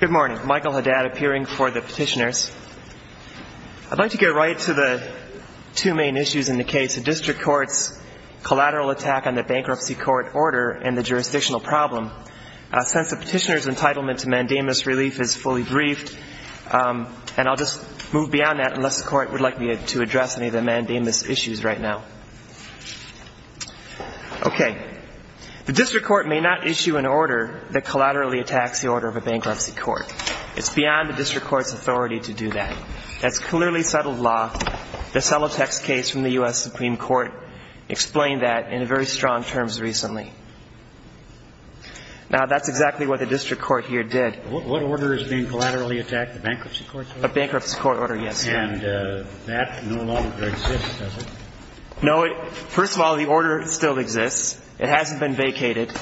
Good morning. Michael Haddad appearing for the petitioners. I'd like to get right to the two main issues in the case. The district court's collateral attack on the bankruptcy court order and the jurisdictional problem. Since the petitioner's entitlement to mandamus relief is fully briefed, and I'll just move beyond that unless the court would like me to address any of the mandamus issues right now. Okay. The district court may not issue an order that collaterally attacks the order of a bankruptcy court. It's beyond the district court's authority to do that. That's clearly settled law. The Solotex case from the U.S. Supreme Court explained that in very strong terms recently. Now, that's exactly what the district court here did. What order is being collaterally attacked, the bankruptcy court? A bankruptcy court order. Yes. And that no longer exists, does it? No. First of all, the order still exists. It hasn't been vacated.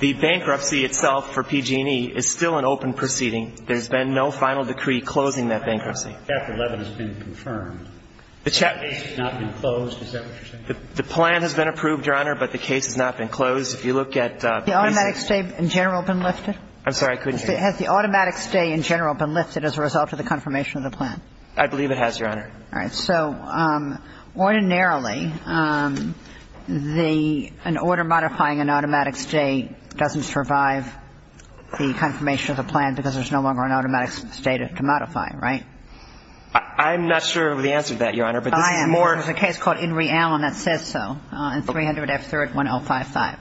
The bankruptcy itself for PG&E is still an open proceeding. There's been no final decree closing that bankruptcy. Chapter 11 has been confirmed. The chapter 11. The case has not been closed. Is that what you're saying? The plan has been approved, Your Honor, but the case has not been closed. If you look at the case. Has the automatic stay in general been lifted? I'm sorry, I couldn't hear you. Has the automatic stay in general been lifted as a result of the confirmation of the plan? I believe it has, Your Honor. All right. So ordinarily, an order modifying an automatic stay doesn't survive the confirmation of the plan because there's no longer an automatic stay to modify, right? I'm not sure of the answer to that, Your Honor, but this is more. I am. There's a case called In Re Allen that says so in 300 F 3rd 1055.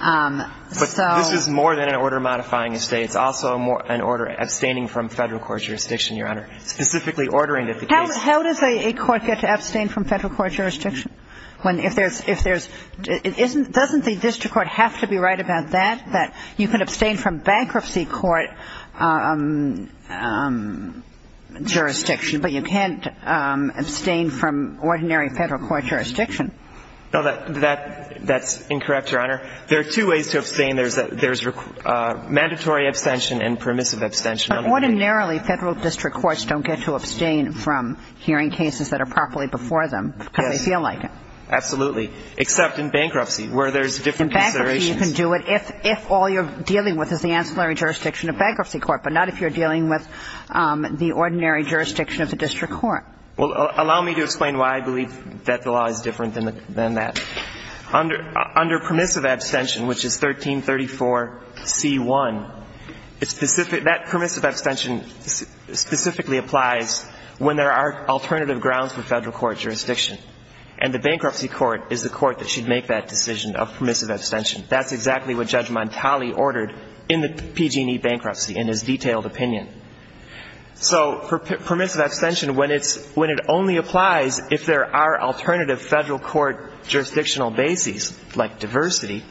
But this is more than an order modifying a stay. It's also an order abstaining from Federal court jurisdiction, Your Honor, specifically ordering that the case. How does a court get to abstain from Federal court jurisdiction? Doesn't the district court have to be right about that, that you can abstain from bankruptcy court jurisdiction, but you can't abstain from ordinary Federal court jurisdiction? No, that's incorrect, Your Honor. There are two ways to abstain. There's mandatory abstention and permissive abstention. But ordinarily, Federal district courts don't get to abstain from hearing cases that are properly before them because they feel like it. Yes, absolutely, except in bankruptcy where there's different considerations. In bankruptcy, you can do it if all you're dealing with is the ancillary jurisdiction of bankruptcy court, but not if you're dealing with the ordinary jurisdiction of the district court. Well, allow me to explain why I believe that the law is different than that. Under permissive abstention, which is 1334C1, that permissive abstention specifically applies when there are alternative grounds for Federal court jurisdiction, and the bankruptcy court is the court that should make that decision of permissive abstention. That's exactly what Judge Montali ordered in the PG&E bankruptcy in his detailed opinion. So permissive abstention, when it only applies if there are alternative Federal court jurisdictional bases, like diversity,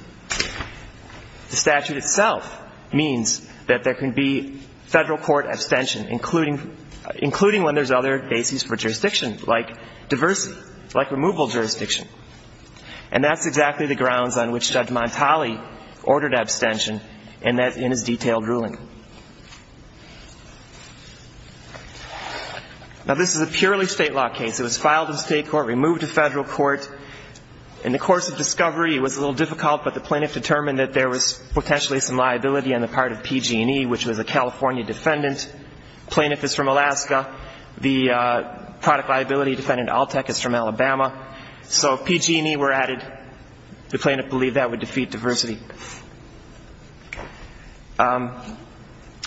the statute itself means that there can be Federal court abstention, including when there's other bases for jurisdiction, like diversity, like removal jurisdiction. And that's exactly the grounds on which Judge Montali ordered abstention in his detailed ruling. Now, this is a purely state law case. It was filed in state court, removed to Federal court. In the course of discovery, it was a little difficult, but the plaintiff determined that there was potentially some liability on the part of PG&E, which was a California defendant. The plaintiff is from Alaska. The product liability defendant, ALTEC, is from Alabama. So if PG&E were added, the plaintiff believed that would defeat diversity.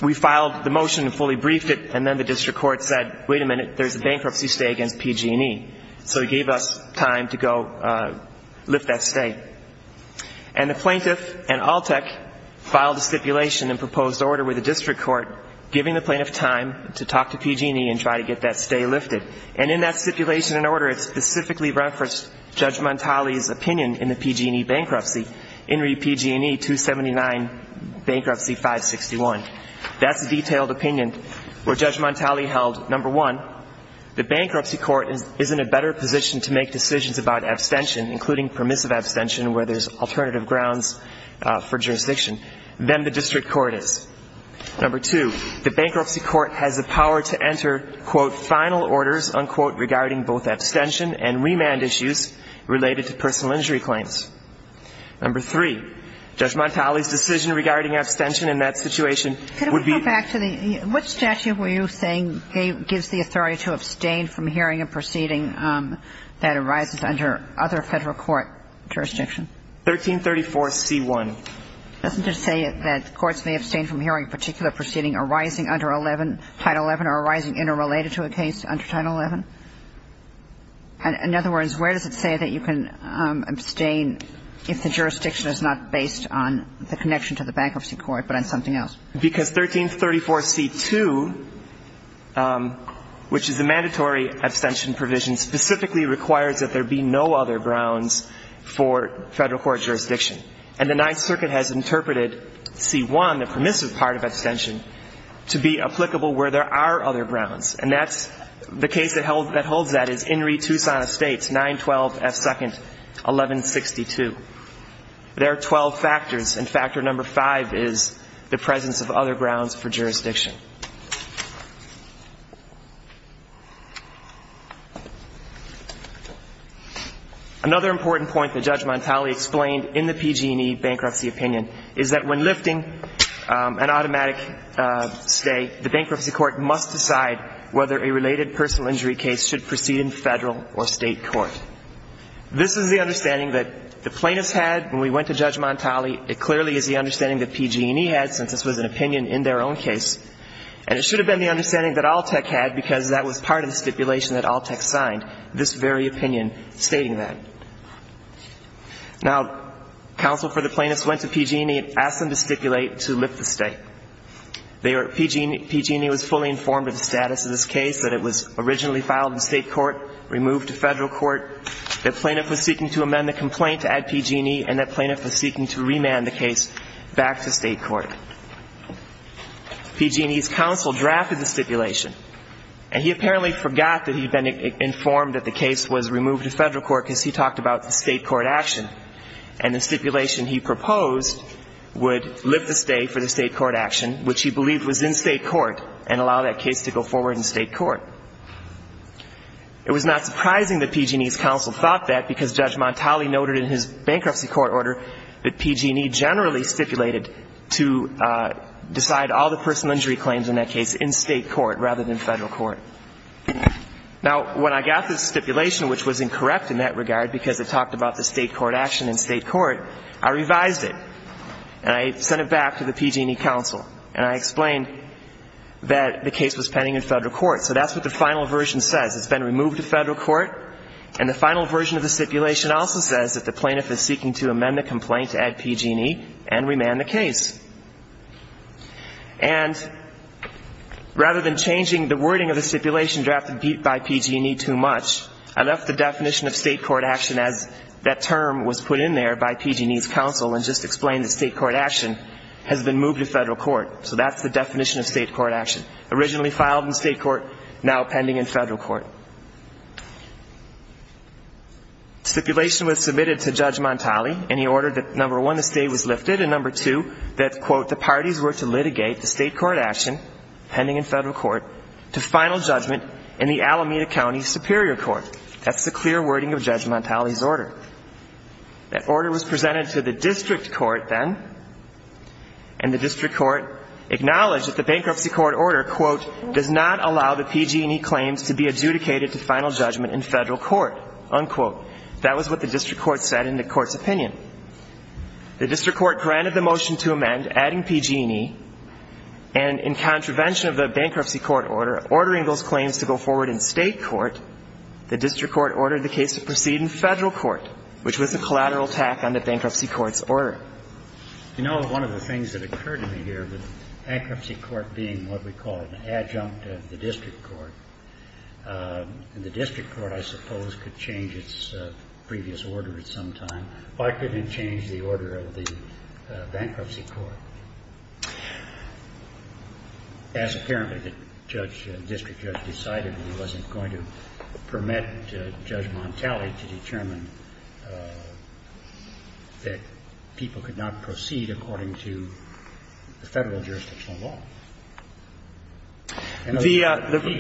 We filed the motion and fully briefed it, and then the district court said, wait a minute, there's a bankruptcy stay against PG&E. So it gave us time to go lift that stay. And the plaintiff and ALTEC filed a stipulation and proposed order with the district court, giving the plaintiff time to talk to PG&E and try to get that stay lifted. And in that stipulation and order, it specifically referenced Judge Montali's opinion in the PG&E bankruptcy, INRI PG&E 279 Bankruptcy 561. That's the detailed opinion where Judge Montali held, number one, the bankruptcy court is in a better position to make decisions about abstention, including permissive abstention where there's alternative grounds for jurisdiction, than the district court is. Number two, the bankruptcy court has the power to enter, quote, Number three, Judge Montali's decision regarding abstention in that situation would be Could we go back to the, which statute were you saying gives the authority to abstain from hearing a proceeding that arises under other Federal court jurisdiction? 1334C1. Doesn't it say that courts may abstain from hearing a particular proceeding arising under Title XI or arising interrelated to a case under Title XI? In other words, where does it say that you can abstain if the jurisdiction is not based on the connection to the bankruptcy court but on something else? Because 1334C2, which is a mandatory abstention provision, specifically requires that there be no other grounds for Federal court jurisdiction. And the Ninth Circuit has interpreted C1, the permissive part of abstention, to be applicable where there are other grounds. And that's the case that holds that is Inree, Tucson Estates, 912F2, 1162. There are 12 factors, and factor number five is the presence of other grounds for jurisdiction. Another important point that Judge Montali explained in the PG&E bankruptcy opinion is that when lifting an automatic stay, the bankruptcy court must decide whether a related personal injury case should proceed in Federal or State court. This is the understanding that the plaintiffs had when we went to Judge Montali. It clearly is the understanding that PG&E had, since this was an opinion in their own case. And it should have been the understanding that Alltech had, because that was part of the stipulation that Alltech signed, this very opinion stating that. Now, counsel for the plaintiffs went to PG&E and asked them to stipulate to lift the stay. PG&E was fully informed of the status of this case, that it was originally filed in State court, removed to Federal court, that plaintiff was seeking to amend the complaint to add PG&E, and that plaintiff was seeking to remand the case back to State court. PG&E's counsel drafted the stipulation, and he apparently forgot that he had been removed to Federal court because he talked about the State court action. And the stipulation he proposed would lift the stay for the State court action, which he believed was in State court, and allow that case to go forward in State court. It was not surprising that PG&E's counsel thought that, because Judge Montali noted in his bankruptcy court order that PG&E generally stipulated to decide all the personal injury claims in that case in State court rather than Federal court. Now, when I got this stipulation, which was incorrect in that regard because it talked about the State court action in State court, I revised it, and I sent it back to the PG&E counsel, and I explained that the case was pending in Federal court. So that's what the final version says. It's been removed to Federal court, and the final version of the stipulation also says that the plaintiff is seeking to amend the complaint to add PG&E and remand the case. And rather than changing the wording of the stipulation drafted by PG&E too much, I left the definition of State court action as that term was put in there by PG&E's counsel and just explained that State court action has been moved to Federal court. So that's the definition of State court action, originally filed in State court, now pending in Federal court. Stipulation was submitted to Judge Montali, and he ordered that, number one, the state was lifted, and, number two, that, quote, the parties were to litigate the State court action, pending in Federal court, to final judgment in the Alameda County Superior Court. That's the clear wording of Judge Montali's order. That order was presented to the District court then, and the District court acknowledged that the bankruptcy court order, quote, does not allow the PG&E claims to be adjudicated to final judgment in Federal court, unquote. That was what the District court said in the court's opinion. The District court granted the motion to amend, adding PG&E, and in contravention of the bankruptcy court order, ordering those claims to go forward in State court, the District court ordered the case to proceed in Federal court, which was a collateral attack on the bankruptcy court's order. You know, one of the things that occurred to me here, the bankruptcy court being what we call an adjunct of the District court, and the District court, I suppose, could change its previous order at some time. Why couldn't it change the order of the bankruptcy court? As apparently the judge, the District judge decided he wasn't going to permit Judge Montali to determine that people could not proceed according to the Federal jurisdictional law. He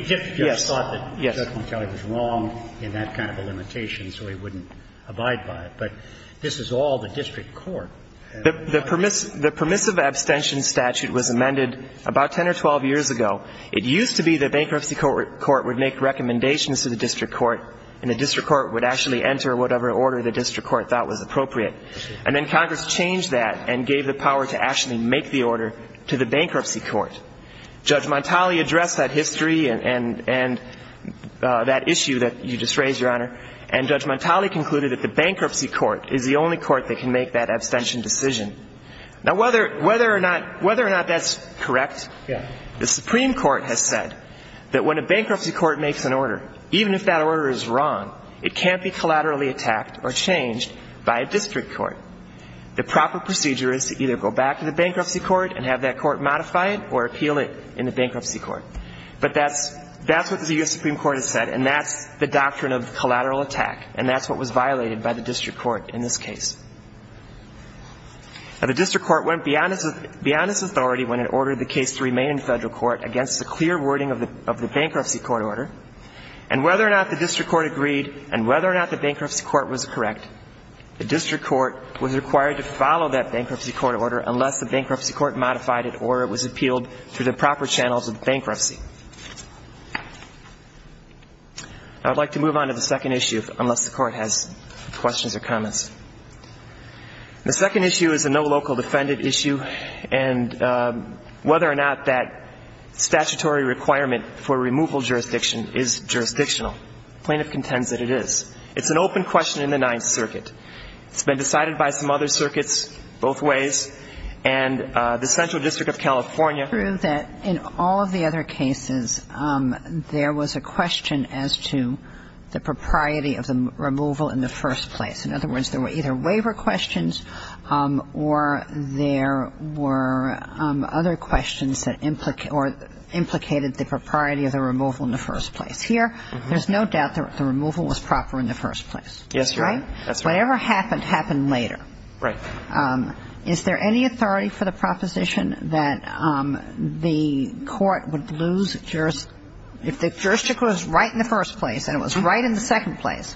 just thought that Judge Montali was wrong in that kind of a limitation, so he wouldn't abide by it. But this is all the District court. The permissive abstention statute was amended about 10 or 12 years ago. It used to be the bankruptcy court would make recommendations to the District court, and the District court would actually enter whatever order the District court thought was appropriate. And then Congress changed that and gave the power to actually make the order to the District court. Judge Montali addressed that history and that issue that you just raised, Your Honor, and Judge Montali concluded that the bankruptcy court is the only court that can make that abstention decision. Now, whether or not that's correct, the Supreme Court has said that when a bankruptcy court makes an order, even if that order is wrong, it can't be collaterally attacked or changed by a District court. The proper procedure is to either go back to the bankruptcy court and have that court modify it or appeal it in the bankruptcy court. But that's what the U.S. Supreme Court has said, and that's the doctrine of collateral attack, and that's what was violated by the District court in this case. Now, the District court went beyond its authority when it ordered the case to remain in federal court against a clear wording of the bankruptcy court order. And whether or not the District court agreed and whether or not the bankruptcy court was correct, the District court was required to follow that bankruptcy court order unless the bankruptcy court modified it or it was appealed through the proper channels of bankruptcy. Now, I'd like to move on to the second issue, unless the court has questions or comments. The second issue is a no local defendant issue, and whether or not that statutory requirement for removal jurisdiction is jurisdictional. The plaintiff contends that it is. It's an open question in the Ninth Circuit. It's been decided by some other circuits both ways. And the Central District of California. It's true that in all of the other cases, there was a question as to the propriety of the removal in the first place. In other words, there were either waiver questions or there were other questions that implicated the propriety of the removal in the first place. Here, there's no doubt that the removal was proper in the first place. Yes, Your Honor. That's right. Whatever happened, happened later. Right. Is there any authority for the proposition that the court would lose jurisdiction if the jurisdiction was right in the first place and it was right in the second place?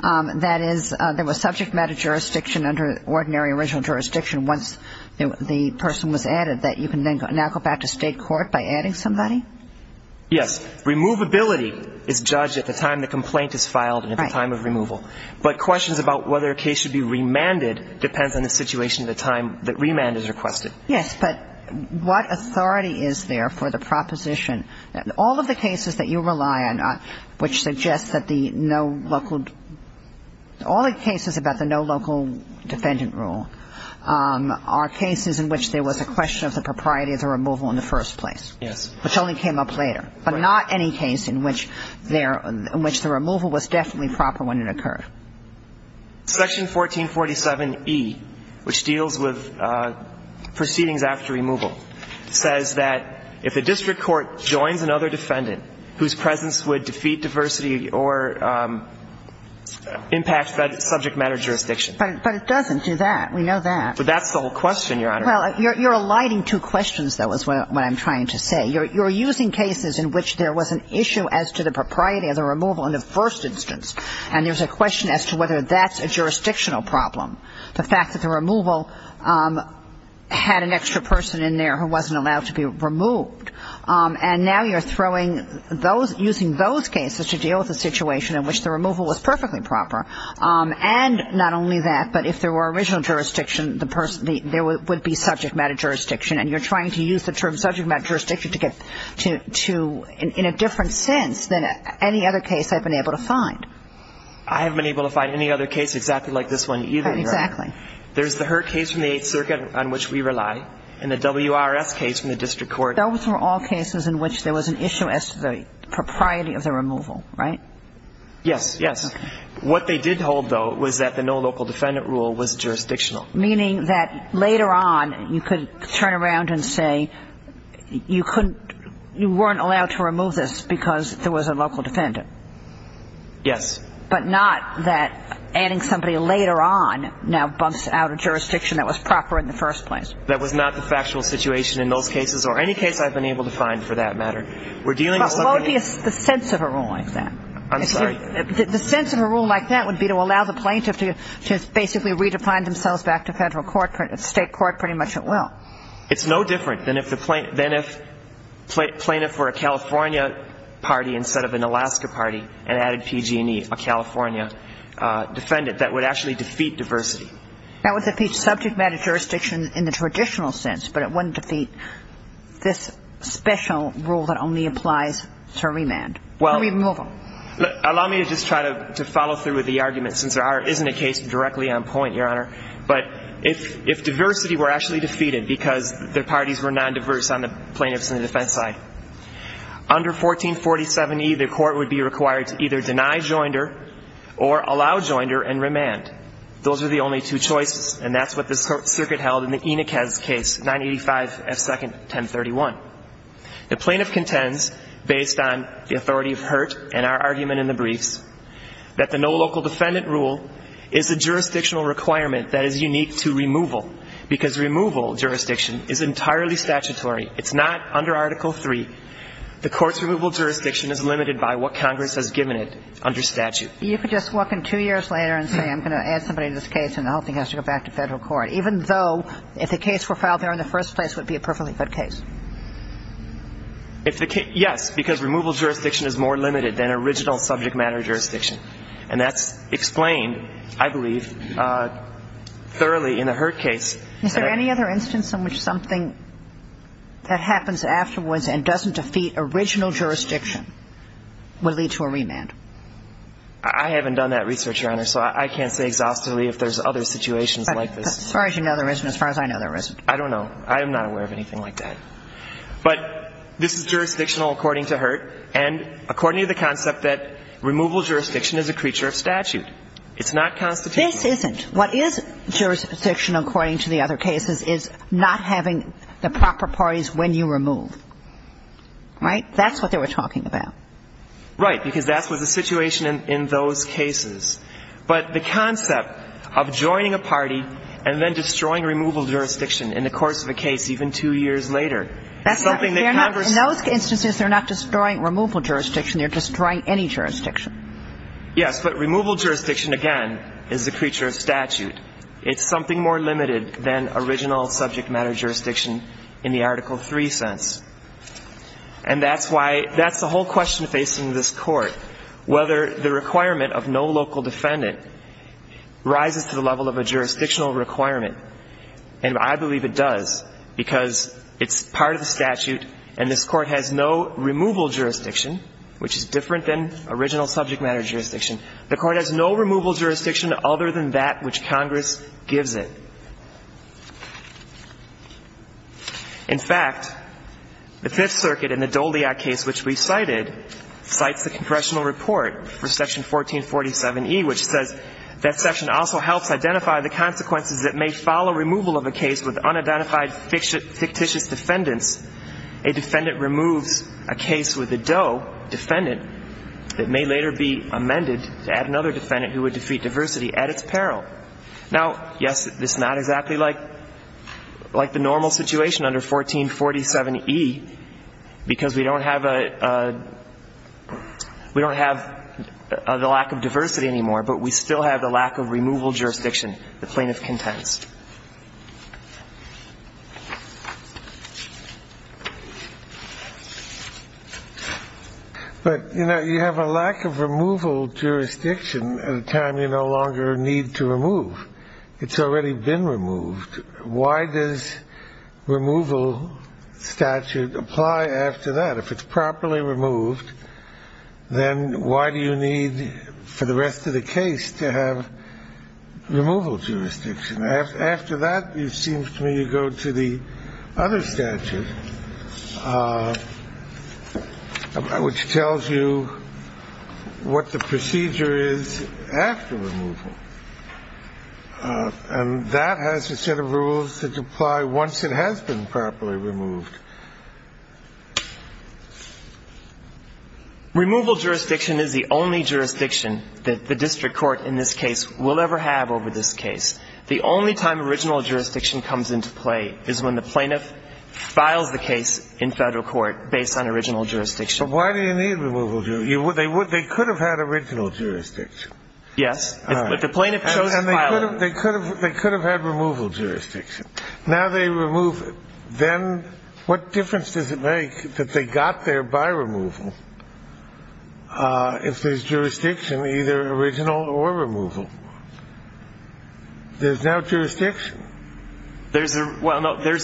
That is, there was subject matter jurisdiction under ordinary original jurisdiction once the person was added that you can now go back to state court by adding somebody? Yes. Removability is judged at the time the complaint is filed and at the time of removal. But questions about whether a case should be remanded depends on the situation at the time that remand is requested. Yes. But what authority is there for the proposition that all of the cases that you rely on, which suggests that the no local – all the cases about the no local defendant rule are cases in which there was a question of the propriety of the removal in the first place. Yes. Which only came up later. Right. There were not any cases in which there – in which the removal was definitely proper when it occurred. Section 1447E, which deals with proceedings after removal, says that if a district court joins another defendant whose presence would defeat diversity or impact subject matter jurisdiction. But it doesn't do that. We know that. But that's the whole question, Your Honor. Well, you're alighting two questions, though, is what I'm trying to say. You're using cases in which there was an issue as to the propriety of the removal in the first instance, and there's a question as to whether that's a jurisdictional problem. The fact that the removal had an extra person in there who wasn't allowed to be removed. And now you're throwing those – using those cases to deal with a situation in which the removal was perfectly proper. And not only that, but if there were original jurisdiction, there would be subject matter jurisdiction. And you're trying to use the term subject matter jurisdiction to get to – in a different sense than any other case I've been able to find. I haven't been able to find any other case exactly like this one either, Your Honor. Exactly. There's the Hurt case from the Eighth Circuit on which we rely and the WRS case from the district court. Those were all cases in which there was an issue as to the propriety of the removal, right? Yes, yes. Okay. What they did hold, though, was that the no local defendant rule was jurisdictional. Meaning that later on you could turn around and say you couldn't – you weren't allowed to remove this because there was a local defendant. Yes. But not that adding somebody later on now bumps out a jurisdiction that was proper in the first place. That was not the factual situation in those cases or any case I've been able to find for that matter. We're dealing with something – But what would be the sense of a rule like that? I'm sorry? The sense of a rule like that would be to allow the plaintiff to basically redefine themselves back to federal court, state court pretty much at will. It's no different than if the plaintiff were a California party instead of an Alaska party and added PG&E, a California defendant. That would actually defeat diversity. That would defeat subject matter jurisdiction in the traditional sense, but it wouldn't defeat this special rule that only applies to remand, to removal. Allow me to just try to follow through with the argument since there isn't a case directly on point, Your Honor. But if diversity were actually defeated because the parties were non-diverse on the plaintiff's and the defense side, under 1447E, the court would be required to either deny joinder or allow joinder and remand. Those are the only two choices, and that's what this circuit held in the Enichez case, 985F2nd 1031. The plaintiff contends, based on the authority of Hurt and our argument in the is unique to removal because removal jurisdiction is entirely statutory. It's not under Article III. The court's removal jurisdiction is limited by what Congress has given it under statute. You could just walk in two years later and say I'm going to add somebody to this case and the whole thing has to go back to federal court, even though if the case were filed there in the first place, it would be a perfectly good case. If the case – yes, because removal jurisdiction is more limited than original subject matter jurisdiction. And that's explained, I believe, thoroughly in the Hurt case. Is there any other instance in which something that happens afterwards and doesn't defeat original jurisdiction would lead to a remand? I haven't done that research, Your Honor, so I can't say exhaustively if there's other situations like this. As far as you know, there isn't. As far as I know, there isn't. I don't know. I am not aware of anything like that. But this is jurisdictional according to Hurt, and according to the concept that removal jurisdiction is a creature of statute. It's not constitutional. This isn't. What is jurisdiction according to the other cases is not having the proper parties when you remove. Right? That's what they were talking about. Right. Because that was the situation in those cases. But the concept of joining a party and then destroying removal jurisdiction in the course of a case even two years later is something that Congress – In those instances, they're not destroying removal jurisdiction. They're destroying any jurisdiction. Yes. But removal jurisdiction, again, is a creature of statute. It's something more limited than original subject matter jurisdiction in the Article 3 sense. And that's why – that's the whole question facing this Court, whether the requirement of no local defendant rises to the level of a jurisdictional requirement. And I believe it does because it's part of the statute, and this Court has no removal jurisdiction, which is different than original subject matter jurisdiction. The Court has no removal jurisdiction other than that which Congress gives it. In fact, the Fifth Circuit in the Doliak case, which we cited, cites the Congressional Report for Section 1447E, which says that section also helps identify the consequences that may follow removal of a case with unidentified fictitious defendants. A defendant removes a case with a DOE defendant that may later be amended to add another defendant who would defeat diversity at its peril. Now, yes, this is not exactly like the normal situation under 1447E because we don't have a – we don't have the lack of diversity anymore, but we still have the lack of removal jurisdiction the plaintiff contends. But, you know, you have a lack of removal jurisdiction at a time you no longer need to remove. It's already been removed. Why does removal statute apply after that? If it's properly removed, then why do you need for the rest of the case to have removal jurisdiction? After that, it seems to me you go to the other statute, which tells you what the procedure is after removal. And that has a set of rules that apply once it has been properly removed. Removal jurisdiction is the only jurisdiction that the district court in this case will ever have over this case. The only time original jurisdiction comes into play is when the plaintiff files the case in federal court based on original jurisdiction. But why do you need removal jurisdiction? They could have had original jurisdiction. Yes. If the plaintiff chose to file it. And they could have had removal jurisdiction. Now they remove it. Then what difference does it make that they got there by removal if there's jurisdiction in either original or removal? There's no jurisdiction. There's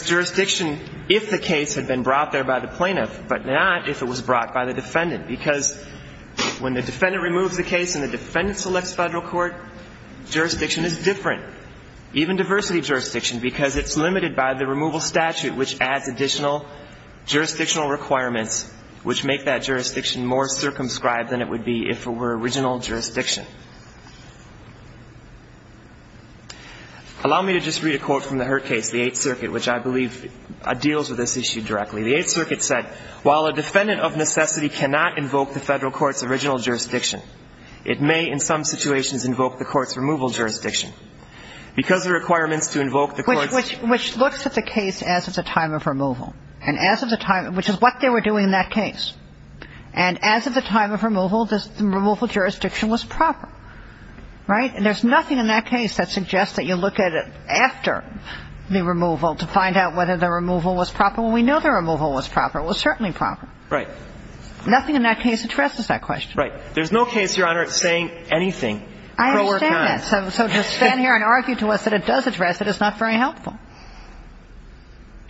jurisdiction if the case had been brought there by the plaintiff, but not if it was brought by the defendant. Because when the defendant removes the case and the defendant selects federal court, jurisdiction is different. Even diversity jurisdiction, because it's limited by the removal statute, which adds additional jurisdictional requirements, which make that jurisdiction more circumscribed than it would be if it were original jurisdiction. Allow me to just read a quote from the Hurt Case, the Eighth Circuit, which I believe deals with this issue directly. The Eighth Circuit said, While a defendant of necessity cannot invoke the federal court's original jurisdiction, it may in some situations invoke the court's removal jurisdiction. Because the requirements to invoke the court's ---- Which looks at the case as of the time of removal. And as of the time, which is what they were doing in that case. And as of the time of removal, the removal jurisdiction was proper. Right? And there's nothing in that case that suggests that you look at it after the removal to find out whether the removal was proper. Well, we know the removal was proper. It was certainly proper. Right. Nothing in that case addresses that question. Right. There's no case, Your Honor, saying anything pro or con. I understand that. So just stand here and argue to us that it does address it. It's not very helpful.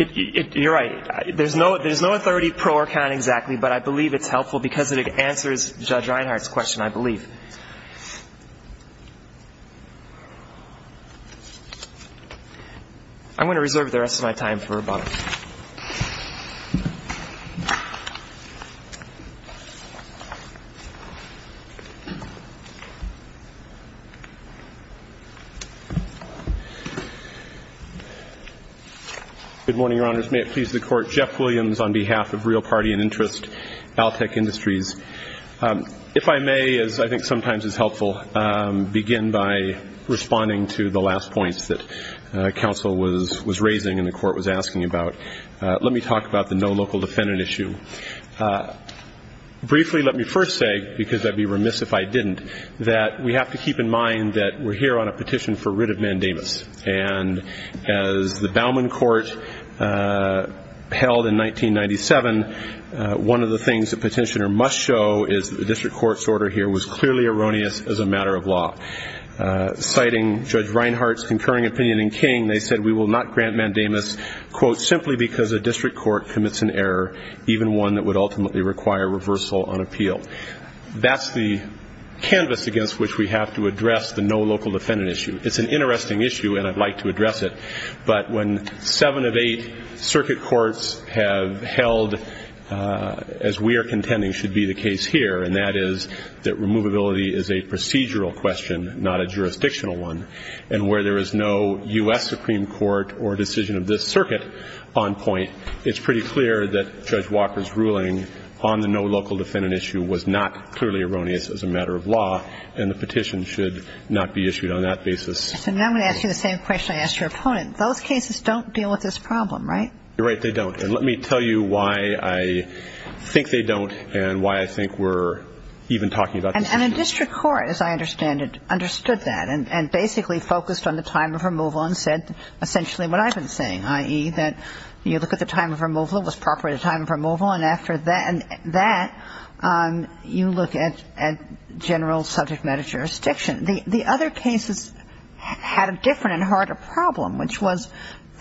You're right. There's no authority pro or con exactly, but I believe it's helpful because it answers Judge Reinhart's question, I believe. I'm going to reserve the rest of my time for rebuttal. Good morning, Your Honors. May it please the Court. Jeff Williams on behalf of Real Party and Interest, Altech Industries. If I may, as I think sometimes is helpful, begin by responding to the last points that counsel was raising and the Court was asking about. Let me talk about the no local defendant issue. Briefly, let me first say, because I'd be remiss if I didn't, that we have to keep in mind that we're here on a petition for writ of mandamus, and as the Bauman Court held in 1997, one of the things the petitioner must show is that the district court's order here was clearly erroneous as a matter of law. Citing Judge Reinhart's concurring opinion in King, they said, we will not grant mandamus, quote, simply because a district court commits an error, even one that would ultimately require reversal on appeal. That's the canvas against which we have to address the no local defendant issue. It's an interesting issue, and I'd like to address it. But when seven of eight circuit courts have held, as we are contending should be the case here, and that is that removability is a procedural question, not a jurisdictional one, and where there is no U.S. Supreme Court or decision of this circuit on point, it's pretty clear that Judge Walker's ruling on the no local defendant issue was not clearly erroneous as a matter of law, and the petition should not be issued on that basis. So now I'm going to ask you the same question I asked your opponent. Those cases don't deal with this problem, right? You're right, they don't. And let me tell you why I think they don't and why I think we're even talking about this issue. And a district court, as I understand it, understood that and basically focused on the time of removal and said essentially what I've been saying, i.e., that you look at the time of removal, it was appropriate time of removal, and after that you look at general subject matter jurisdiction. The other cases had a different and harder problem, which was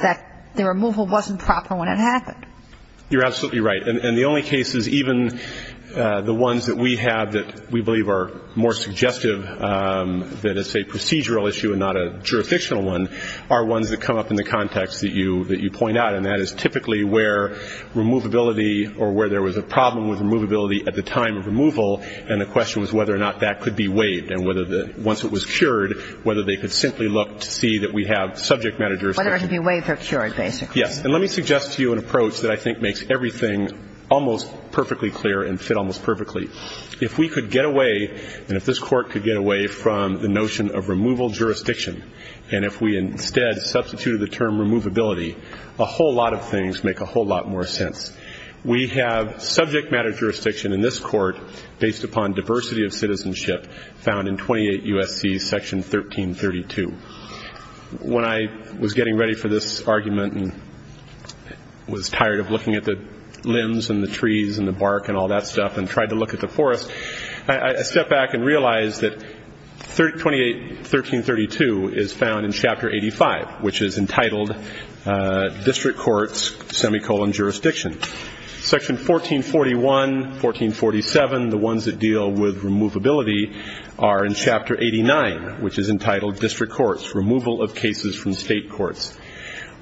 that the removal wasn't proper when it happened. You're absolutely right. And the only cases, even the ones that we have that we believe are more suggestive that it's a procedural issue and not a jurisdictional one, are ones that come up in the context that you point out, and that is typically where removability or where there was a problem with removability at the time of removal and the question was whether or not that could be waived. And once it was cured, whether they could simply look to see that we have subject matter jurisdiction. Whether it could be waived or cured, basically. Yes. And let me suggest to you an approach that I think makes everything almost perfectly clear and fit almost perfectly. If we could get away, and if this Court could get away from the notion of removal jurisdiction and if we instead substituted the term removability, a whole lot of things make a whole lot more sense. We have subject matter jurisdiction in this Court based upon diversity of citizenship found in 28 U.S.C. Section 1332. When I was getting ready for this argument and was tired of looking at the limbs and the trees and the bark and all that stuff and tried to look at the forest, I stepped back and realized that 28 1332 is found in Chapter 85, which is entitled District Courts, semicolon, Jurisdiction. Section 1441, 1447, the ones that deal with removability, are in Chapter 89, which is entitled District Courts, Removal of Cases from State Courts.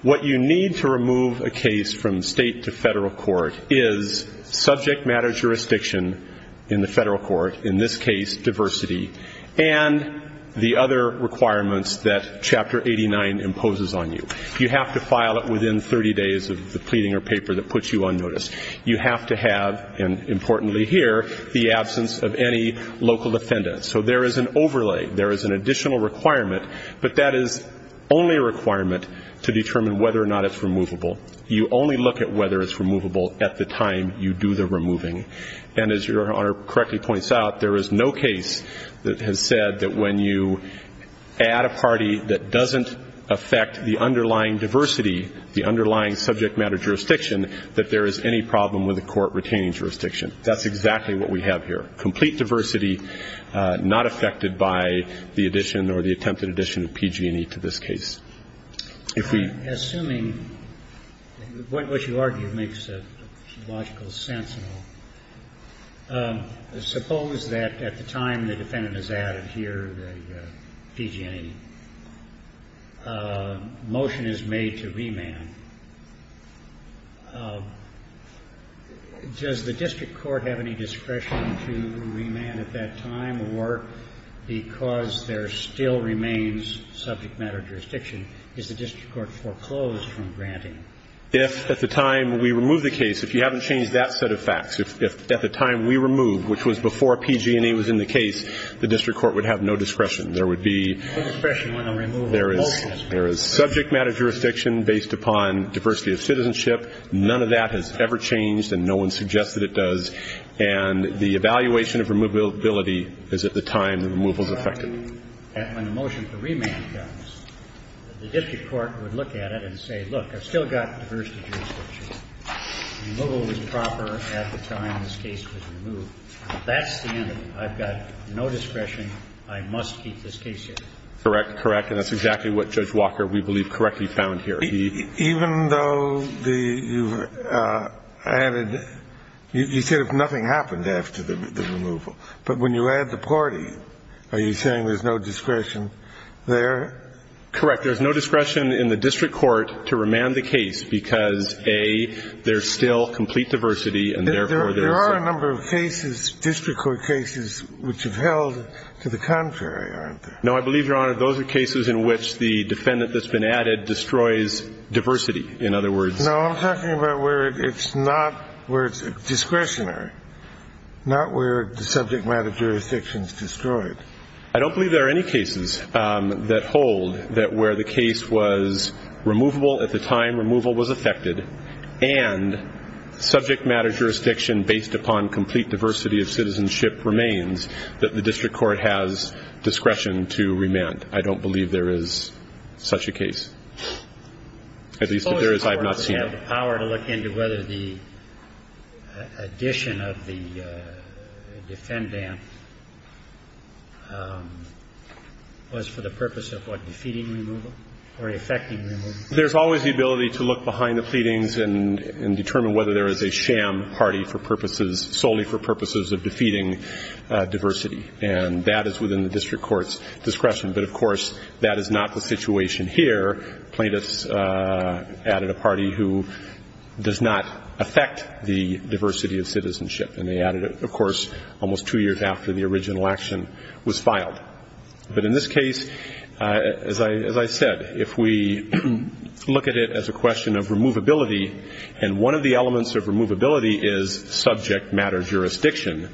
What you need to remove a case from state to federal court is subject matter jurisdiction in the federal court, in this case diversity, and the other requirements that Chapter 89 imposes on you. You have to file it within 30 days of the pleading or paper that puts you on notice. You have to have, and importantly here, the absence of any local defendant. So there is an overlay. There is an additional requirement, but that is only a requirement to determine whether or not it's removable. You only look at whether it's removable at the time you do the removing. And as Your Honor correctly points out, there is no case that has said that when you add a party that doesn't affect the underlying diversity, the underlying subject matter jurisdiction, that there is any problem with the court retaining jurisdiction. That's exactly what we have here, complete diversity not affected by the addition or the attempted addition of PG&E to this case. I'm assuming the point in which you argue makes logical sense and all. Suppose that at the time the defendant is added here, the PG&E, motion is made to remand. Does the district court have any discretion to remand at that time or because there is no discretion, is the district court foreclosed from granting? If at the time we remove the case, if you haven't changed that set of facts, if at the time we remove, which was before PG&E was in the case, the district court would have no discretion. There would be no discretion when a removal motion is made. There is subject matter jurisdiction based upon diversity of citizenship. None of that has ever changed, and no one suggests that it does. And the evaluation of removability is at the time the removal is effected. I'm assuming that when the motion for remand comes, the district court would look at it and say, look, I've still got diversity of jurisdiction. The removal was proper at the time this case was removed. That's the end of it. I've got no discretion. I must keep this case here. Correct. Correct. And that's exactly what Judge Walker, we believe, correctly found here. Even though the you've added, you said nothing happened after the removal. But when you add the party, are you saying there's no discretion there? Correct. There's no discretion in the district court to remand the case because, A, there's still complete diversity, and therefore there's no discretion. There are a number of cases, district court cases, which have held to the contrary, aren't there? No, I believe, Your Honor, those are cases in which the defendant that's been added destroys diversity, in other words. No, I'm talking about where it's not where it's discretionary, not where the subject matter jurisdiction is destroyed. I don't believe there are any cases that hold that where the case was removable at the time removal was effected and subject matter jurisdiction based upon complete diversity of citizenship remains that the district court has discretion to remand. I don't believe there is such a case. At least, if there is, I have not seen it. We have the power to look into whether the addition of the defendant was for the purpose of what, defeating removal or effecting removal? There's always the ability to look behind the pleadings and determine whether there is a sham party for purposes, solely for purposes of defeating diversity, and that is within the district court's discretion. But, of course, that is not the situation here. Plaintiffs added a party who does not affect the diversity of citizenship, and they added it, of course, almost two years after the original action was filed. But in this case, as I said, if we look at it as a question of removability, and one of the elements of removability is subject matter jurisdiction,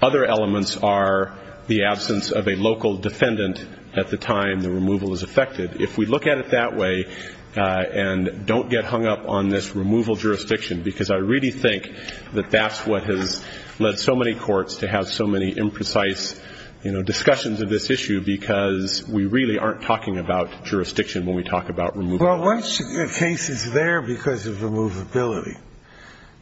other elements are the absence of a local defendant at the time the removal is effected. If we look at it that way and don't get hung up on this removal jurisdiction, because I really think that that's what has led so many courts to have so many imprecise, you know, discussions of this issue, because we really aren't talking about jurisdiction when we talk about removal. Well, one case is there because of removability.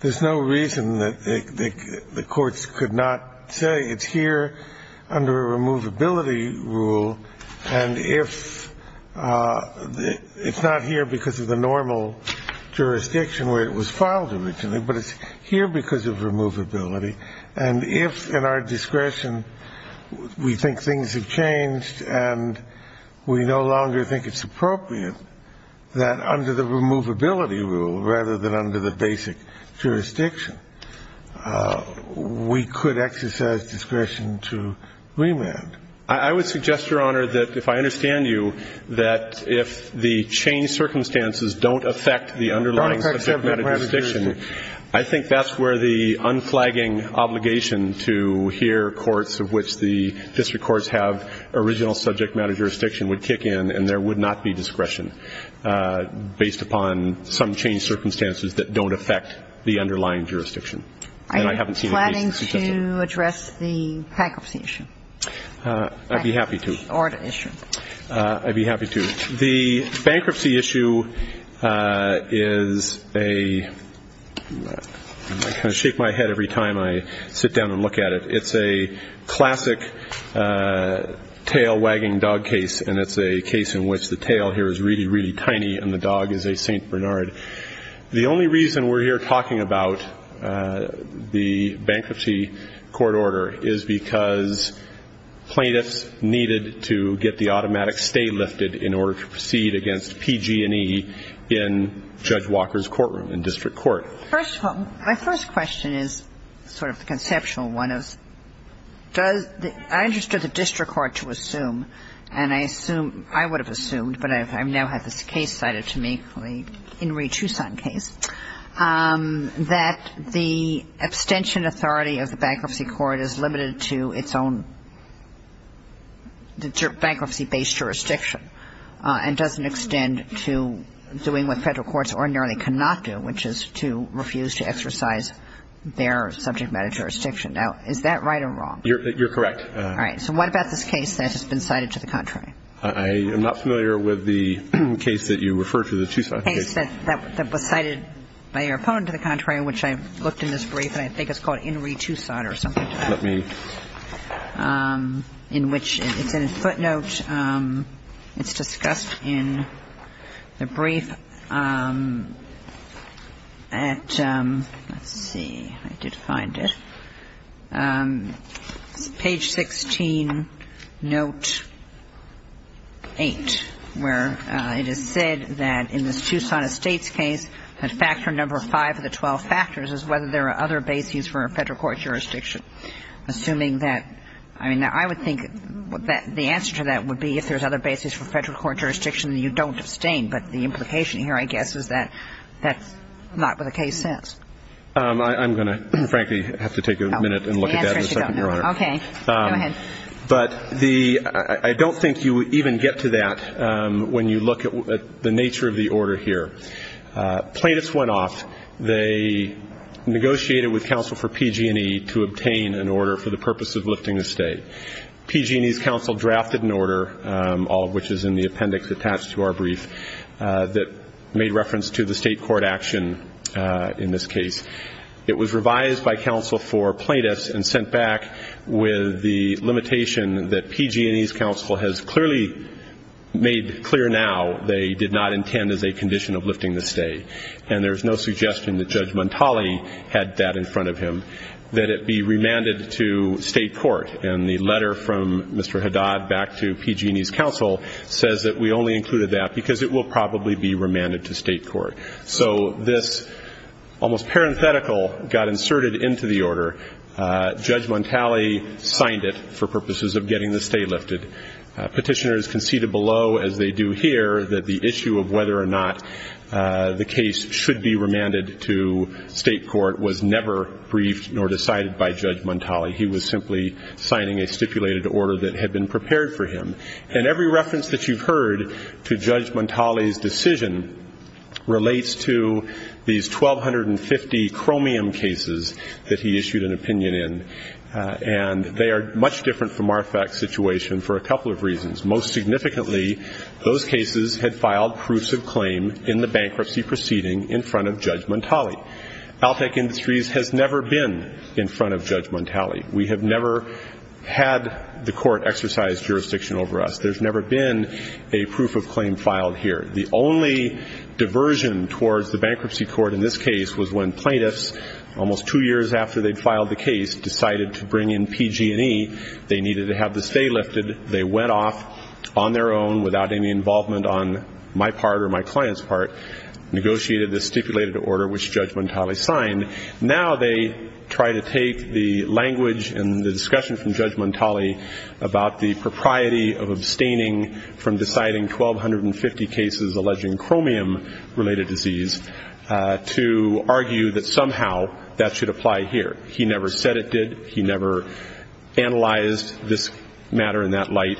There's no reason that the courts could not say it's here under a removability rule, and it's not here because of the normal jurisdiction where it was filed originally, but it's here because of removability. And if, in our discretion, we think things have changed and we no longer think it's appropriate, that under the removability rule rather than under the basic jurisdiction, we could exercise discretion to remand. I would suggest, Your Honor, that if I understand you, that if the changed circumstances don't affect the underlying subject matter jurisdiction, I think that's where the unflagging obligation to hear courts, of which the district courts have original subject matter jurisdiction, would kick in and there would not be discretion based upon some changed circumstances that don't affect the underlying jurisdiction. And I haven't seen a case that's successful. Are you planning to address the bankruptcy issue? I'd be happy to. Or the issue. I'd be happy to. The bankruptcy issue is a – I kind of shake my head every time I sit down and look at it. It's a classic tail-wagging dog case, and it's a case in which the tail here is really, really tiny and the dog is a St. Bernard. The only reason we're here talking about the bankruptcy court order is because plaintiffs needed to get the automatic stay lifted in order to proceed against PG&E in Judge Walker's courtroom in district court. First of all, my first question is sort of the conceptual one of does the – I understood the district court to assume, and I assume – I would have assumed, but I now have this case cited to me, the Henry Tucson case, that the abstention authority of the bankruptcy court is limited to its own bankruptcy-based jurisdiction and doesn't extend to doing what Federal courts ordinarily cannot do, which is to refuse to exercise their subject matter jurisdiction. Now, is that right or wrong? You're correct. All right. So what about this case that has been cited to the contrary? I am not familiar with the case that you referred to, the Tucson case. The case that was cited by your opponent to the contrary, which I looked in his brief, and I think it's called Henry Tucson or something. Let me – Let's see. I did find it. It's page 16, note 8, where it is said that in this Tucson Estates case, that factor number 5 of the 12 factors is whether there are other bases for a Federal I mean, I would think the answer to that would be if there's other bases for Federal court jurisdiction that you don't abstain. But the implication here, I guess, is that that's not what the case says. I'm going to, frankly, have to take a minute and look at that in a second, Your Honor. Okay. Go ahead. But the – I don't think you even get to that when you look at the nature of the order here. Plaintiffs went off. They negotiated with counsel for PG&E to obtain an order for the purpose of lifting the stay. PG&E's counsel drafted an order, all of which is in the appendix attached to our brief, that made reference to the state court action in this case. It was revised by counsel for plaintiffs and sent back with the limitation that PG&E's counsel has clearly made clear now they did not intend as a condition of lifting the stay. And there's no suggestion that Judge Montali had that in front of him, that it be remanded to state court. And the letter from Mr. Haddad back to PG&E's counsel says that we only included that because it will probably be remanded to state court. So this almost parenthetical got inserted into the order. Judge Montali signed it for purposes of getting the stay lifted. Petitioners conceded below, as they do here, that the issue of whether or not the case should be remanded to state court was never briefed nor decided by Judge Montali. He was simply signing a stipulated order that had been prepared for him. And every reference that you've heard to Judge Montali's decision relates to these 1,250 chromium cases that he issued an opinion in. And they are much different from our fact situation for a couple of reasons. Most significantly, those cases had filed proofs of claim in the bankruptcy proceeding in front of Judge Montali. Alltech Industries has never been in front of Judge Montali. We have never had the court exercise jurisdiction over us. There's never been a proof of claim filed here. The only diversion towards the bankruptcy court in this case was when plaintiffs, almost two years after they'd filed the case, decided to bring in PG&E. They needed to have the stay lifted. They went off on their own without any involvement on my part or my client's part, negotiated the stipulated order, which Judge Montali signed. Now they try to take the language and the discussion from Judge Montali about the propriety of abstaining from deciding 1,250 cases alleging chromium-related disease to argue that somehow that should apply here. He never said it did. He never analyzed this matter in that light.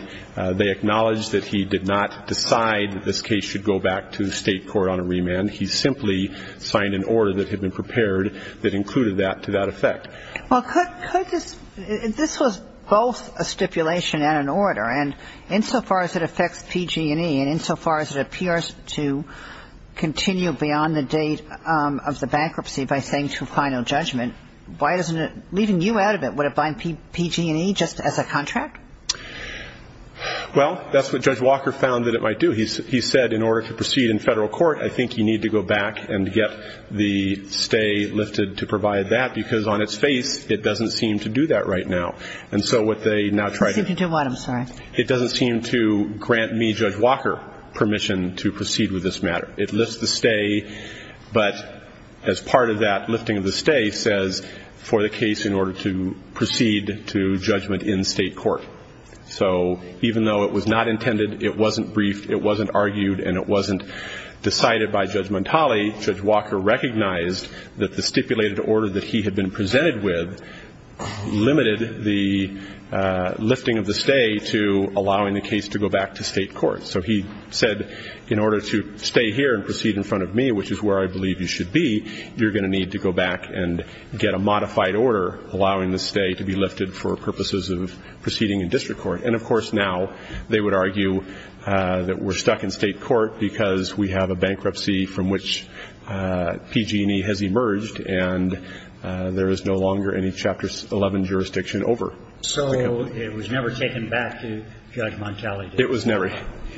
They acknowledged that he did not decide this case should go back to the state court on a remand. He simply signed an order that had been prepared that included that to that effect. Well, could this ñ this was both a stipulation and an order, and insofar as it affects PG&E and insofar as it appears to continue beyond the date of the bankruptcy by saying to final judgment, why doesn't it ñ leaving you out of it, would it bind PG&E just as a contract? Well, that's what Judge Walker found that it might do. He said in order to proceed in federal court, I think you need to go back and get the stay lifted to provide that because on its face it doesn't seem to do that right now. And so what they now try to do ñ Superintendent Watt, I'm sorry. It doesn't seem to grant me, Judge Walker, permission to proceed with this matter. It lifts the stay, but as part of that lifting of the stay, says for the case in order to proceed to judgment in state court. So even though it was not intended, it wasn't briefed, it wasn't argued, and it wasn't decided by Judge Montali, Judge Walker recognized that the stipulated order that he had been presented with limited the lifting of the stay to allowing the case to go back to state court. So he said in order to stay here and proceed in front of me, which is where I believe you should be, you're going to need to go back and get a modified order allowing the stay to be lifted for purposes of proceeding in district court. And, of course, now they would argue that we're stuck in state court because we have a bankruptcy from which PG&E has emerged and there is no longer any Chapter 11 jurisdiction over. So it was never taken back to Judge Montali? It was never.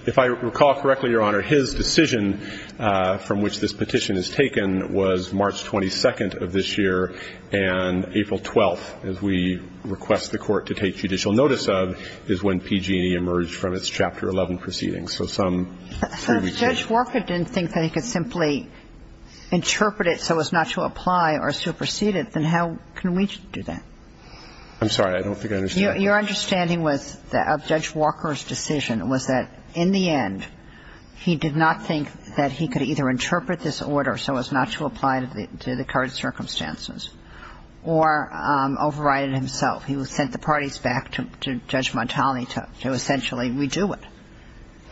If I recall correctly, Your Honor, his decision from which this petition is taken was March 22nd of this year, and April 12th, as we request the Court to take judicial notice of, is when PG&E emerged from its Chapter 11 proceedings. If Judge Walker didn't think that he could simply interpret it so as not to apply or supersede it, then how can we do that? I'm sorry. I don't think I understand. Your understanding of Judge Walker's decision was that in the end he did not think that he could either interpret this order so as not to apply to the current circumstances or override it himself. He sent the parties back to Judge Montali to essentially redo it.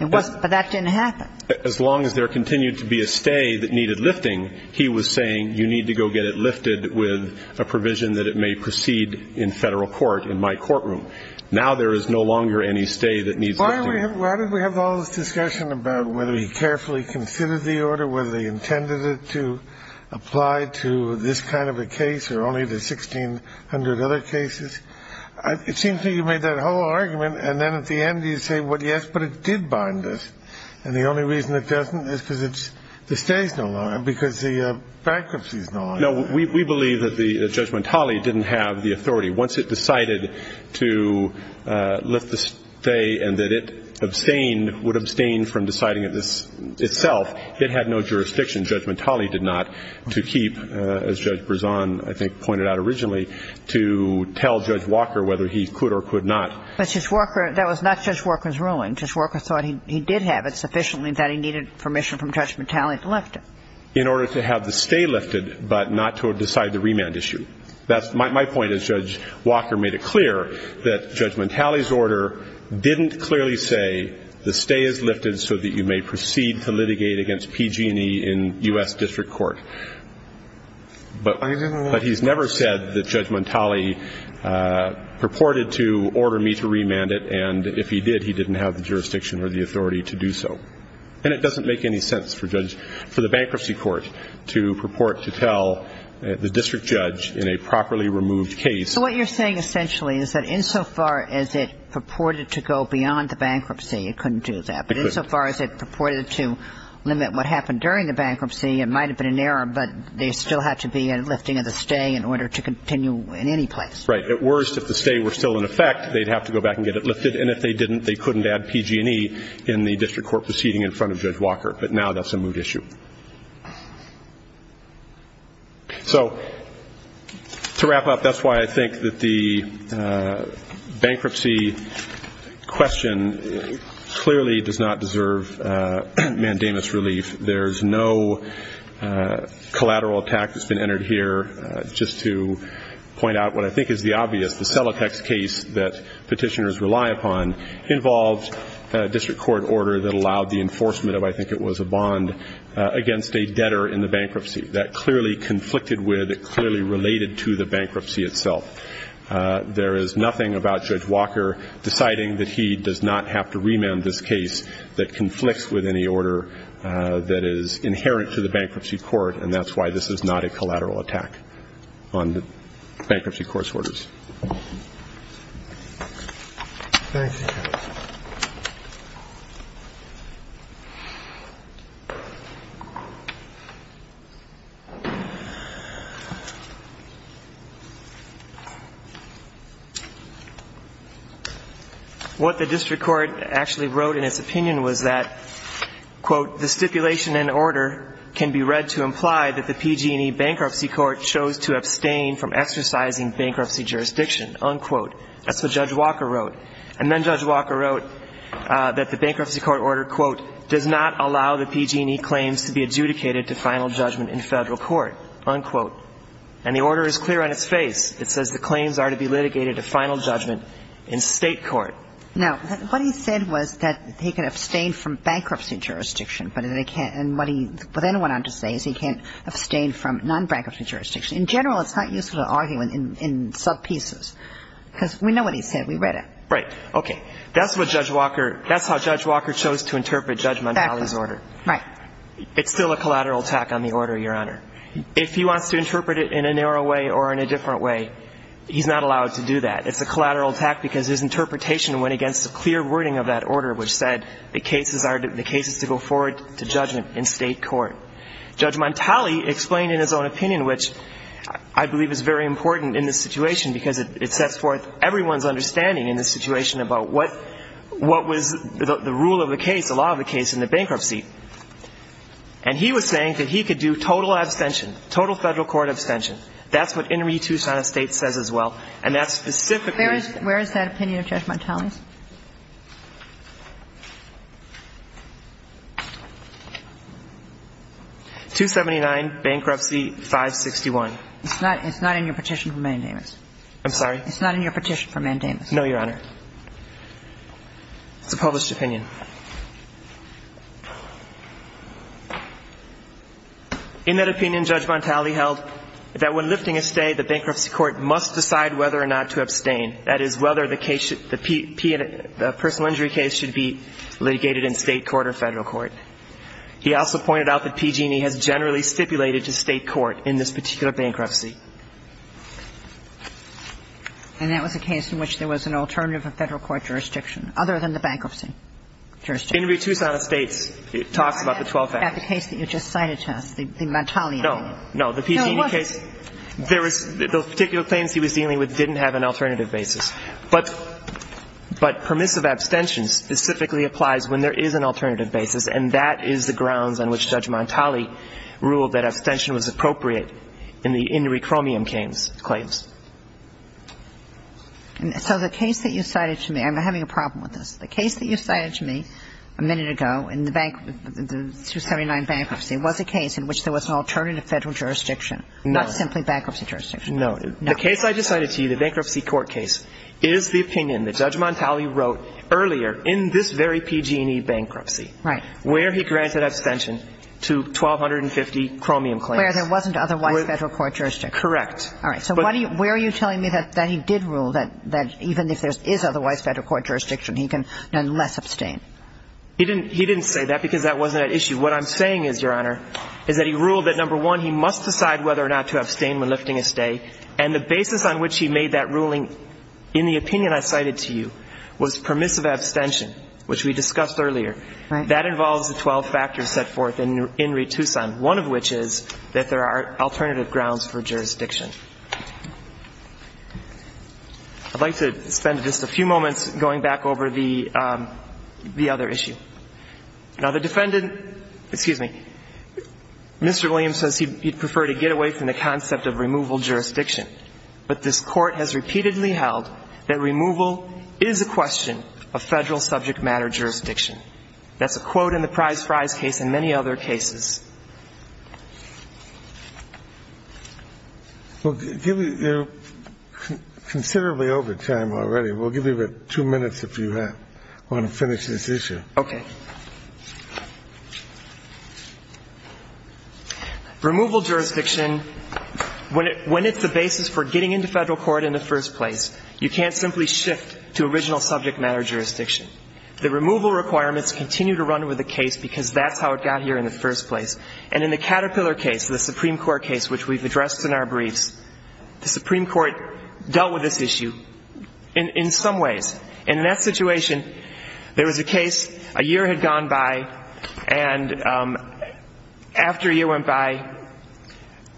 But that didn't happen. As long as there continued to be a stay that needed lifting, he was saying you need to go get it lifted with a provision that it may proceed in federal court in my courtroom. Now there is no longer any stay that needs lifting. Why did we have all this discussion about whether he carefully considered the order, whether he intended it to apply to this kind of a case or only the 1,600 other cases? It seems to me you made that whole argument, and then at the end you say, well, yes, but it did bind us. And the only reason it doesn't is because the stay is no longer, because the bankruptcy is no longer. No, we believe that Judge Montali didn't have the authority. Once it decided to lift the stay and that it abstained, would abstain from deciding it itself, it had no jurisdiction. Judge Montali did not to keep, as Judge Berzon, I think, pointed out originally, to tell Judge Walker whether he could or could not. But Judge Walker, that was not Judge Walker's ruling. Judge Walker thought he did have it sufficiently that he needed permission from Judge Montali to lift it. In order to have the stay lifted but not to decide the remand issue. That's my point, as Judge Walker made it clear, that Judge Montali's order didn't clearly say the stay is lifted so that you may proceed to litigate against PG&E in U.S. district court. But he's never said that Judge Montali purported to order me to remand it, and if he did, he didn't have the jurisdiction or the authority to do so. And it doesn't make any sense for the bankruptcy court to purport to tell the district judge in a properly removed case. So what you're saying essentially is that insofar as it purported to go beyond the bankruptcy, it couldn't do that. It couldn't. But insofar as it purported to limit what happened during the bankruptcy, it might have been an error, but there still had to be a lifting of the stay in order to continue in any place. Right. At worst, if the stay were still in effect, they'd have to go back and get it lifted, and if they didn't, they couldn't add PG&E in the district court proceeding in front of Judge Walker. But now that's a moved issue. So to wrap up, that's why I think that the bankruptcy question clearly does not deserve mandamus relief. There's no collateral attack that's been entered here. Just to point out what I think is the obvious, the Celotex case that petitioners rely upon involves a district court order that allowed the enforcement of, I think it was a bond, against a debtor in the bankruptcy. That clearly conflicted with, it clearly related to the bankruptcy itself. There is nothing about Judge Walker deciding that he does not have to remand this case that conflicts with any order that is inherent to the bankruptcy court, and that's why this is not a collateral attack on the bankruptcy court's orders. Thank you. What the district court actually wrote in its opinion was that, quote, the stipulation and order can be read to imply that the PG&E bankruptcy court chose to abstain from exercising bankruptcy jurisdiction, unquote. That's what Judge Walker wrote. And then Judge Walker wrote that the bankruptcy court order, quote, does not allow the PG&E claims to be adjudicated to final judgment in Federal court, unquote. And the order is clear on its face. It says the claims are to be litigated to final judgment in State court. Now, what he said was that he could abstain from bankruptcy jurisdiction, and what he then went on to say is he can't abstain from nonbankruptcy jurisdiction. In general, it's not useful to argue in subpieces, because we know what he said. We read it. Right. Okay. That's how Judge Walker chose to interpret Judge Montali's order. Right. It's still a collateral attack on the order, Your Honor. If he wants to interpret it in a narrow way or in a different way, he's not allowed to do that. It's a collateral attack because his interpretation went against a clear wording of that order, which said the case is to go forward to judgment in State court. Judge Montali explained in his own opinion, which I believe is very important in this situation, about what was the rule of the case, the law of the case in the bankruptcy. And he was saying that he could do total abstention, total Federal court abstention. That's what In re Tucson Estates says as well. And that specifically is the case. Where is that opinion of Judge Montali's? 279, Bankruptcy 561. It's not in your petition for mandamus. I'm sorry? It's not in your petition for mandamus. No, Your Honor. It's a published opinion. In that opinion, Judge Montali held that when lifting a stay, the bankruptcy court must decide whether or not to abstain. That is, whether the case should be, the personal injury case should be litigated in State court or Federal court. He also pointed out that PG&E has generally stipulated to State court in this particular bankruptcy. And that was a case in which there was an alternative of Federal court jurisdiction other than the bankruptcy jurisdiction. In re Tucson Estates, it talks about the 12 factors. About the case that you just cited to us, the Montali case. No, no. The PG&E case. No, it wasn't. The particular claims he was dealing with didn't have an alternative basis. But permissive abstention specifically applies when there is an alternative basis, and that is the grounds on which Judge Montali ruled that abstention was appropriate in the injury chromium claims. So the case that you cited to me, I'm having a problem with this. The case that you cited to me a minute ago in the 279 bankruptcy was a case in which there was an alternative Federal jurisdiction, not simply bankruptcy jurisdiction. No. The case I just cited to you, the bankruptcy court case, is the opinion that Judge Montali wrote earlier in this very PG&E bankruptcy. Right. Where he granted abstention to 1250 chromium claims. Where there wasn't otherwise Federal court jurisdiction. Correct. All right. So where are you telling me that he did rule that even if there is otherwise Federal court jurisdiction, he can nonetheless abstain? He didn't say that because that wasn't at issue. What I'm saying is, Your Honor, is that he ruled that, number one, he must decide whether or not to abstain when lifting a stay, and the basis on which he made that ruling in the opinion I cited to you was permissive abstention, which we discussed earlier. Right. That involves the 12 factors set forth in Re Tucson, one of which is that there are alternative grounds for jurisdiction. I'd like to spend just a few moments going back over the other issue. Now, the defendant, excuse me, Mr. Williams says he'd prefer to get away from the concept of removal jurisdiction. But this Court has repeatedly held that removal is a question of Federal subject matter jurisdiction. That's a quote in the Price-Fries case and many other cases. Well, you're considerably over time already. We'll give you two minutes if you want to finish this issue. Okay. Removal jurisdiction, when it's the basis for getting into Federal court in the first place, you can't simply shift to original subject matter jurisdiction. The removal requirements continue to run with the case because that's how it got here in the first place. And in the Caterpillar case, the Supreme Court case which we've addressed in our briefs, the Supreme Court dealt with this issue in some ways. And in that situation, there was a case, a year had gone by, and after a year went by,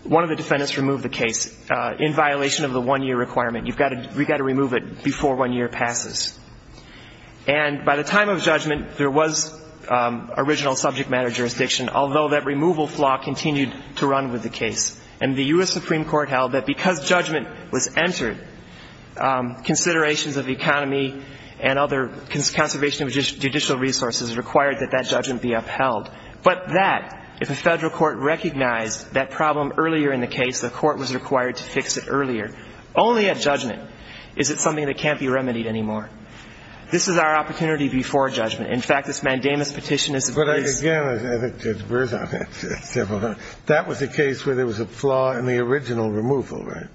one of the defendants removed the case in violation of the one-year requirement. We've got to remove it before one year passes. And by the time of judgment, there was original subject matter jurisdiction, although that removal flaw continued to run with the case. And the U.S. Supreme Court held that because judgment was entered, considerations of economy and other conservation of judicial resources required that that judgment be upheld. But that, if a Federal court recognized that problem earlier in the case, the court was required to fix it earlier, only at judgment is it something that can't be remedied anymore. This is our opportunity before judgment. In fact, this mandamus petition is a very ‑‑ But, again, I think Judge Berzon, that was a case where there was a flaw in the original removal, right?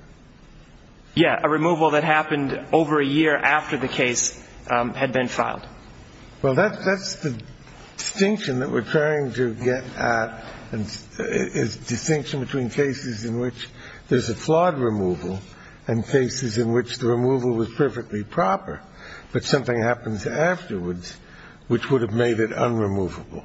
Yeah. A removal that happened over a year after the case had been filed. Well, that's the distinction that we're trying to get at is distinction between cases in which there's a flawed removal and cases in which the removal was perfectly proper, but something happens afterwards which would have made it unremovable.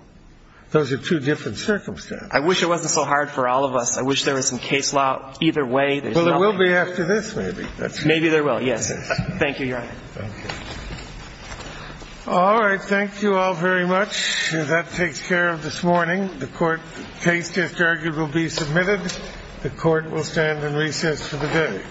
Those are two different circumstances. I wish it wasn't so hard for all of us. I wish there was some case law either way. Well, there will be after this, maybe. Maybe there will, yes. Thank you, Your Honor. All right. Thank you all very much. That takes care of this morning. The court case just argued will be submitted. The court will stand in recess for the day. Thank you. Thank you. Thank you.